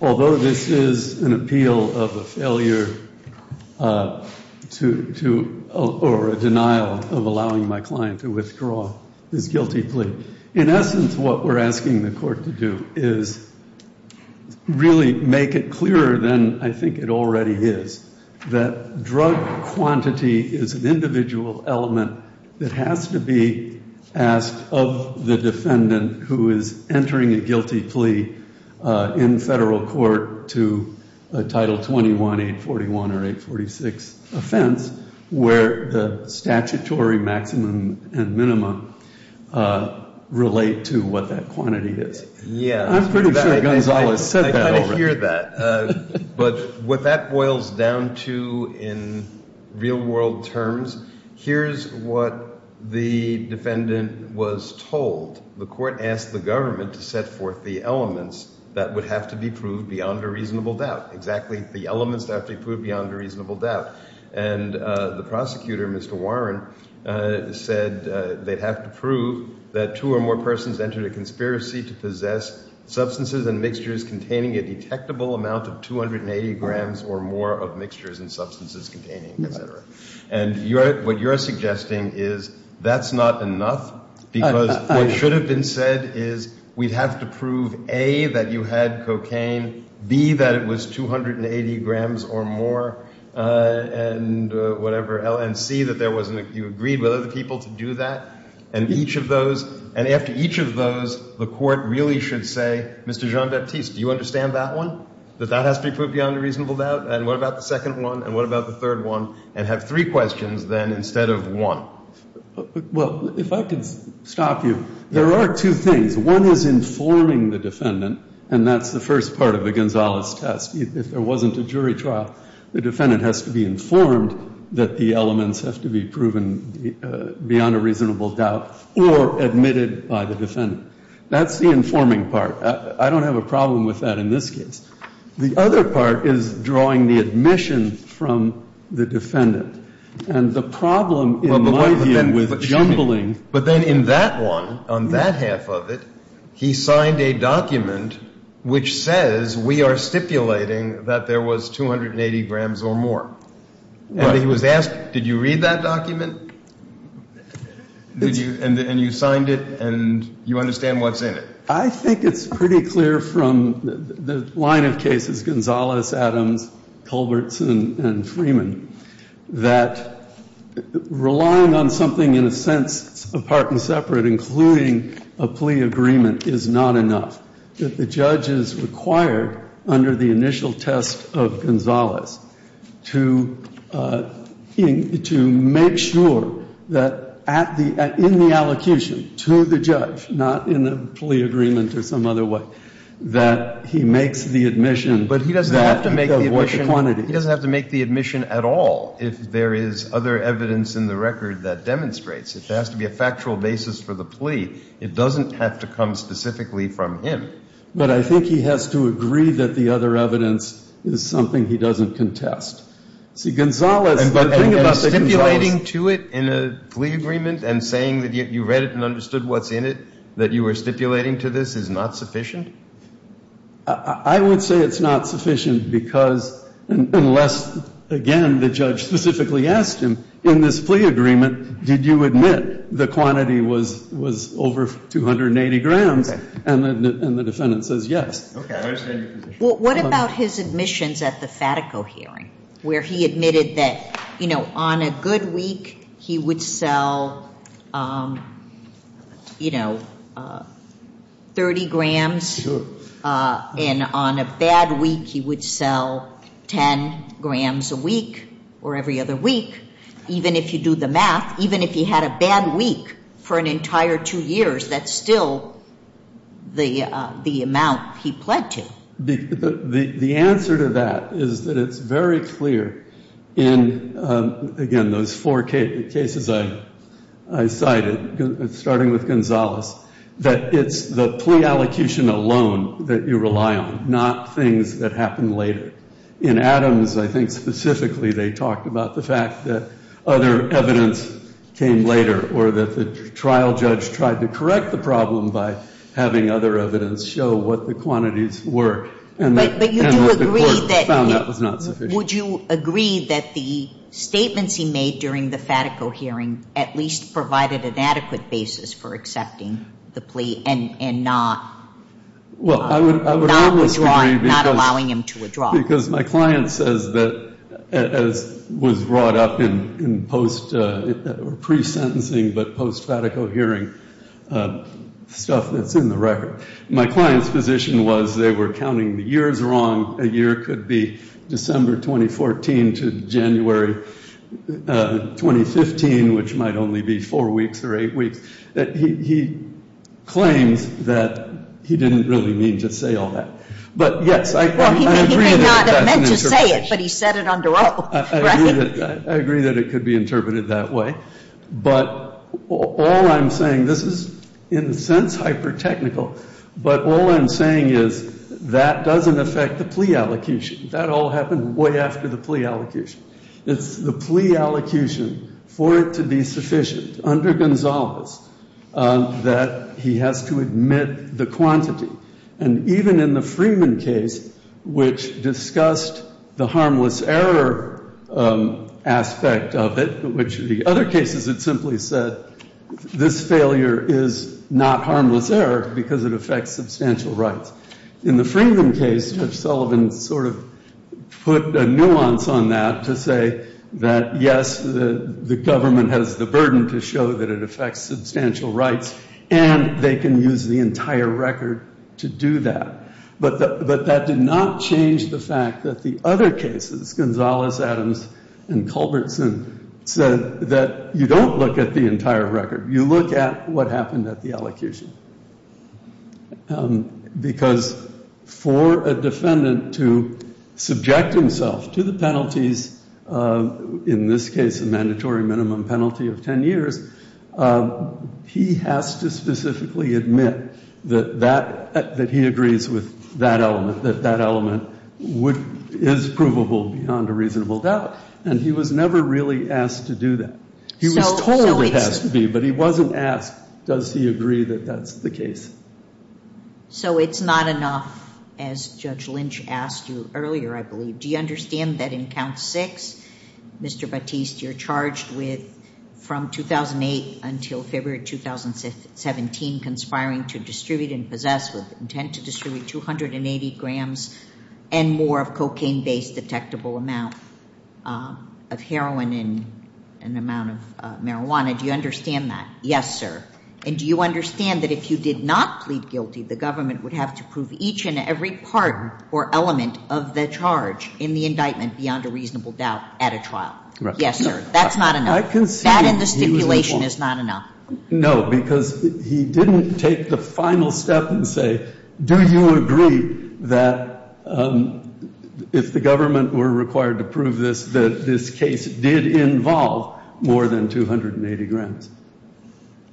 Although this is an appeal of a failure or a denial of allowing my client to withdraw his guilty plea, in essence what we're asking the court to do is really make it clearer than I think it already is, that drug quantity is an individual element that has to be asked of the defendant who is entering a guilty plea in federal court to a Title 21, 841, or 846 offense, where the statutory maximum and minimum relate to what that quantity is. I'm pretty sure Gonzales said that already. I hear that, but what that boils down to in real-world terms, here's what the defendant was told. The court asked the government to set forth the elements that would have to be proved beyond a reasonable doubt, exactly the elements that have to be proved beyond a reasonable doubt, and the prosecutor, Mr. Warren, said they'd have to prove that two or more persons entered a conspiracy to possess substances and mixtures containing a detectable amount of 280 grams or more of mixtures and substances containing, et cetera. And what you're suggesting is that's not enough, because what should have been said is we'd have to prove, A, that you had cocaine, B, that it was 280 grams or more, and whatever, and C, that you agreed with other people to do that, and each of those. And after each of those, the court really should say, Mr. Jean-Baptiste, do you understand that one, that that has to be proved beyond a reasonable doubt, and what about the second one, and what about the third one, and have three questions, then, instead of one? Well, if I could stop you. There are two things. One is informing the defendant, and that's the first part of the Gonzales test. If there wasn't a jury trial, the defendant has to be informed that the elements have to be proven beyond a reasonable doubt or admitted by the defendant. That's the informing part. I don't have a problem with that in this case. The other part is drawing the admission from the defendant. And the problem, in my view, with jumbling- But then in that one, on that half of it, he signed a document which says we are stipulating that there was 280 grams or more. And he was asked, did you read that document, and you signed it, and you understand what's in it? I think it's pretty clear from the line of cases, Gonzales, Adams, Culbertson, and Freeman, that relying on something, in a sense, apart and separate, including a plea agreement, is not enough, that the judge is required, under the initial test of Gonzales, to make sure that, in the allocution to the judge, not in a plea agreement or some other way, that he makes the admission that the quantity- But he doesn't have to make the admission at all if there is other evidence in the record that demonstrates. If there has to be a factual basis for the plea, it doesn't have to come specifically from him. But I think he has to agree that the other evidence is something he doesn't contest. See, Gonzales- And stipulating to it in a plea agreement and saying that you read it and understood what's in it, that you were stipulating to this, is not sufficient? I would say it's not sufficient because, unless, again, the judge specifically asked him, in this plea agreement, did you admit the quantity was over 280 grams? And the defendant says yes. Okay, I understand your position. Well, what about his admissions at the Fatico hearing, where he admitted that on a good week, he would sell 30 grams. Sure. And on a bad week, he would sell 10 grams a week or every other week. Even if you do the math, even if he had a bad week for an entire two years, that's still the amount he pled to. The answer to that is that it's very clear in, again, those four cases I cited, starting with Gonzales, that it's the plea allocution alone that you rely on, not things that happen later. In Adams, I think, specifically, they talked about the fact that other evidence came later or that the trial judge tried to correct the problem by having other evidence show what the quantities were. And the court found that was not sufficient. Would you agree that the statements he made during the Fatico hearing at least provided an adequate basis for accepting the plea and not? Well, I would almost agree because my client says that, as was brought up in pre-sentencing but post-Fatico hearing stuff that's in the record. My client's position was they were counting the years wrong. A year could be December 2014 to January 2015, which might only be four weeks or eight weeks. He claims that he didn't really mean to say all that. But yes, I agree that that's an interpretation. Well, he may not have meant to say it, but he said it under oath, right? I agree that it could be interpreted that way. But all I'm saying, this is in a sense hyper-technical, but all I'm saying is that doesn't affect the plea allocution. That all happened way after the plea allocation. It's the plea allocation for it to be sufficient under Gonzales that he has to admit the quantity. And even in the Freeman case, which discussed the harmless error aspect of it, which the other cases had simply said, this failure is not harmless error because it affects substantial rights. In the Freeman case, Judge Sullivan sort of put a nuance on that to say that, yes, the government has the burden to show that it affects substantial rights. And they can use the entire record to do that. But that did not change the fact that the other cases, Gonzales, Adams, and Culbertson said that you don't look at the entire record. You look at what happened at the allocation. Because for a defendant to subject himself to the penalties, in this case, a mandatory minimum penalty of 10 years, he has to specifically admit that he agrees with that element, that that element is provable beyond a reasonable doubt. And he was never really asked to do that. He was told it has to be, but he wasn't asked, does he agree that that's the case. So it's not enough, as Judge Lynch asked you earlier, I believe. Do you understand that in Count 6, Mr. Batiste, you're charged with, from 2008 until February 2017, conspiring to distribute and possess with intent to distribute 280 grams and more of cocaine-based detectable amount of heroin and an amount of marijuana. Do you understand that? Yes, sir. And do you understand that if you did not plead guilty, the government would have to prove each and every part or element of the charge in the indictment beyond a reasonable doubt at a trial? Yes, sir. That's not enough. That and the stipulation is not enough. No, because he didn't take the final step and say, do you agree that if the government were required to prove this, that this case did involve more than 280 grams.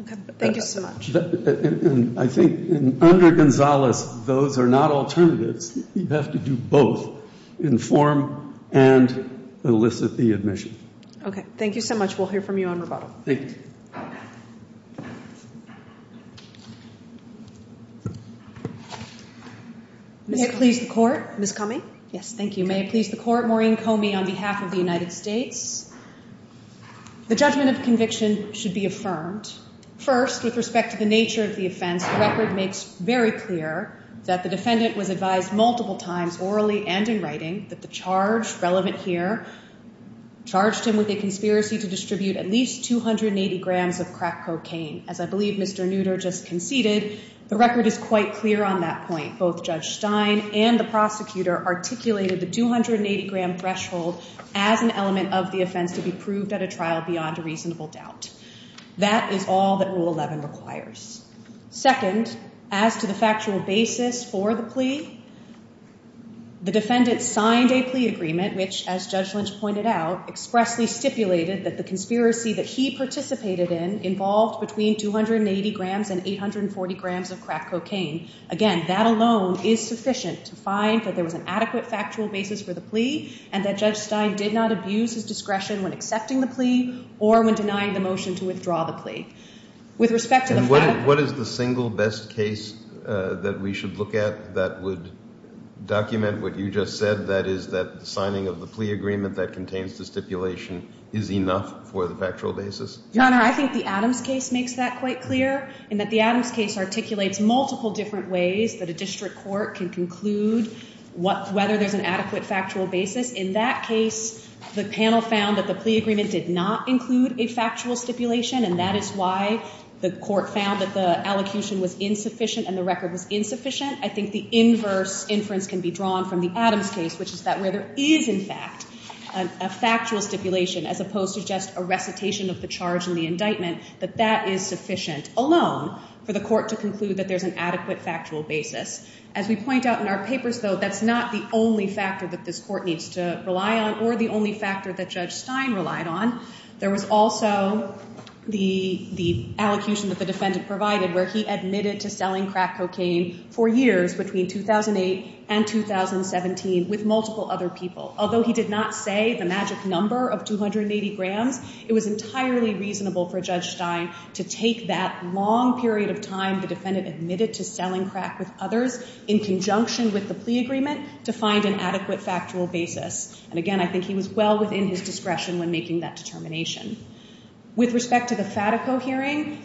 Okay. Thank you so much. I think under Gonzalez, those are not alternatives. You have to do both, inform and elicit the admission. Okay. Thank you so much. We'll hear from you on rebuttal. Thank you. May it please the Court. Ms. Comey. Yes, thank you. May it please the Court. Maureen Comey on behalf of the United States. The judgment of conviction should be affirmed. First, with respect to the nature of the offense, the record makes very clear that the defendant was advised multiple times orally and in writing that the charge relevant here charged him with a conspiracy to distribute at least 280 grams of crack cocaine. As I believe Mr. Nutter just conceded, the record is quite clear on that point. Both Judge Stein and the prosecutor articulated the 280-gram threshold as an element of the offense to be proved at a trial beyond a reasonable doubt. That is all that Rule 11 requires. Second, as to the factual basis for the plea, the defendant signed a plea agreement, which, as Judge Lynch pointed out, expressly stipulated that the conspiracy that he participated in involved between 280 grams and 840 grams of crack cocaine. Again, that alone is sufficient to find that there was an adequate factual basis for the plea and that Judge Stein did not abuse his discretion when accepting the plea or when denying the motion to withdraw the plea. With respect to the fact that- What is the single best case that we should look at that would document what you just said? That is that the signing of the plea agreement that contains the stipulation is enough for the factual basis? Your Honor, I think the Adams case makes that quite clear in that the Adams case articulates multiple different ways that a district court can conclude whether there's an adequate factual basis. In that case, the panel found that the plea agreement did not include a factual stipulation and that is why the court found that the allocution was insufficient and the record was insufficient. I think the inverse inference can be drawn from the Adams case, which is that where there is, in fact, a factual stipulation as opposed to just a recitation of the charge in the indictment, that that is sufficient alone for the court to conclude that there's an adequate factual basis. As we point out in our papers, though, that's not the only factor that this court needs to rely on or the only factor that Judge Stein relied on. There was also the allocution that the defendant provided where he admitted to selling crack cocaine for years between 2008 and 2017 with multiple other people. Although he did not say the magic number of 280 grams, it was entirely reasonable for Judge Stein to take that long period of time the defendant admitted to selling crack with others in conjunction with the plea agreement to find an adequate factual basis. And again, I think he was well within his discretion when making that determination. With respect to the FATICO hearing,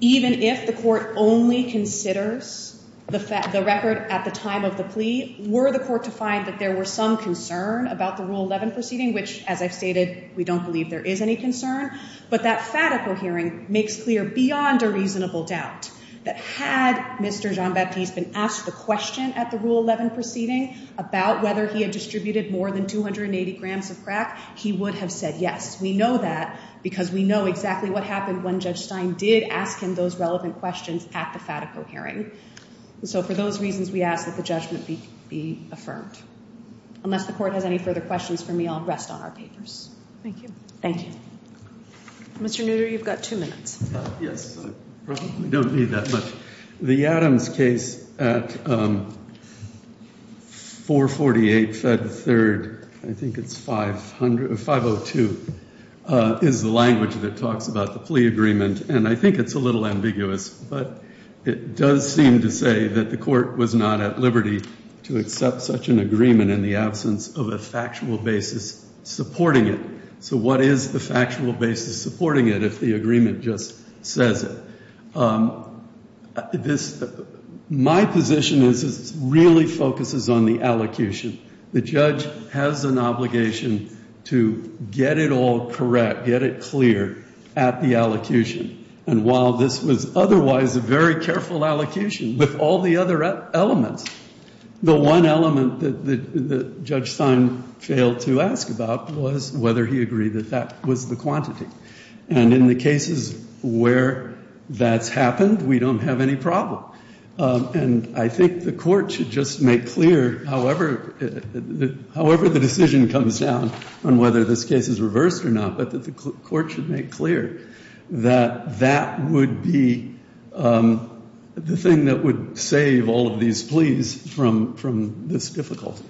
even if the court only considers the record at the time of the plea, were the court to find that there were some concern about the Rule 11 proceeding, which, as I've stated, we don't believe there is any concern, but that FATICO hearing makes clear beyond a reasonable doubt that had Mr. Jean-Baptiste been asked the question at the Rule 11 proceeding about whether he had distributed more than 280 grams of crack, he would have said yes. We know that because we know exactly what happened when Judge Stein did ask him those relevant questions at the FATICO hearing. So for those reasons, we ask that the judgment be affirmed. Unless the court has any further questions for me, I'll rest on our papers. Thank you. Thank you. Mr. Nutter, you've got two minutes. Yes, I probably don't need that much. The Adams case at 448 Fed 3rd, I think it's 502, is the language that talks about the plea agreement. And I think it's a little ambiguous, but it does seem to say that the court was not at liberty to accept such an agreement in the absence of a factual basis supporting it. So what is the factual basis supporting it if the agreement just says it? My position is it really focuses on the allocution. The judge has an obligation to get it all correct, get it clear at the allocution. And while this was otherwise a very careful allocation with all the other elements, the one element that Judge Stein failed to ask about was whether he agreed that that was the quantity. And in the cases where that's happened, we don't have any problem. And I think the court should just make clear, however the decision comes down on whether this case is reversed or not, but that the court should make clear that that would be the thing that would save all of these pleas from this difficulty.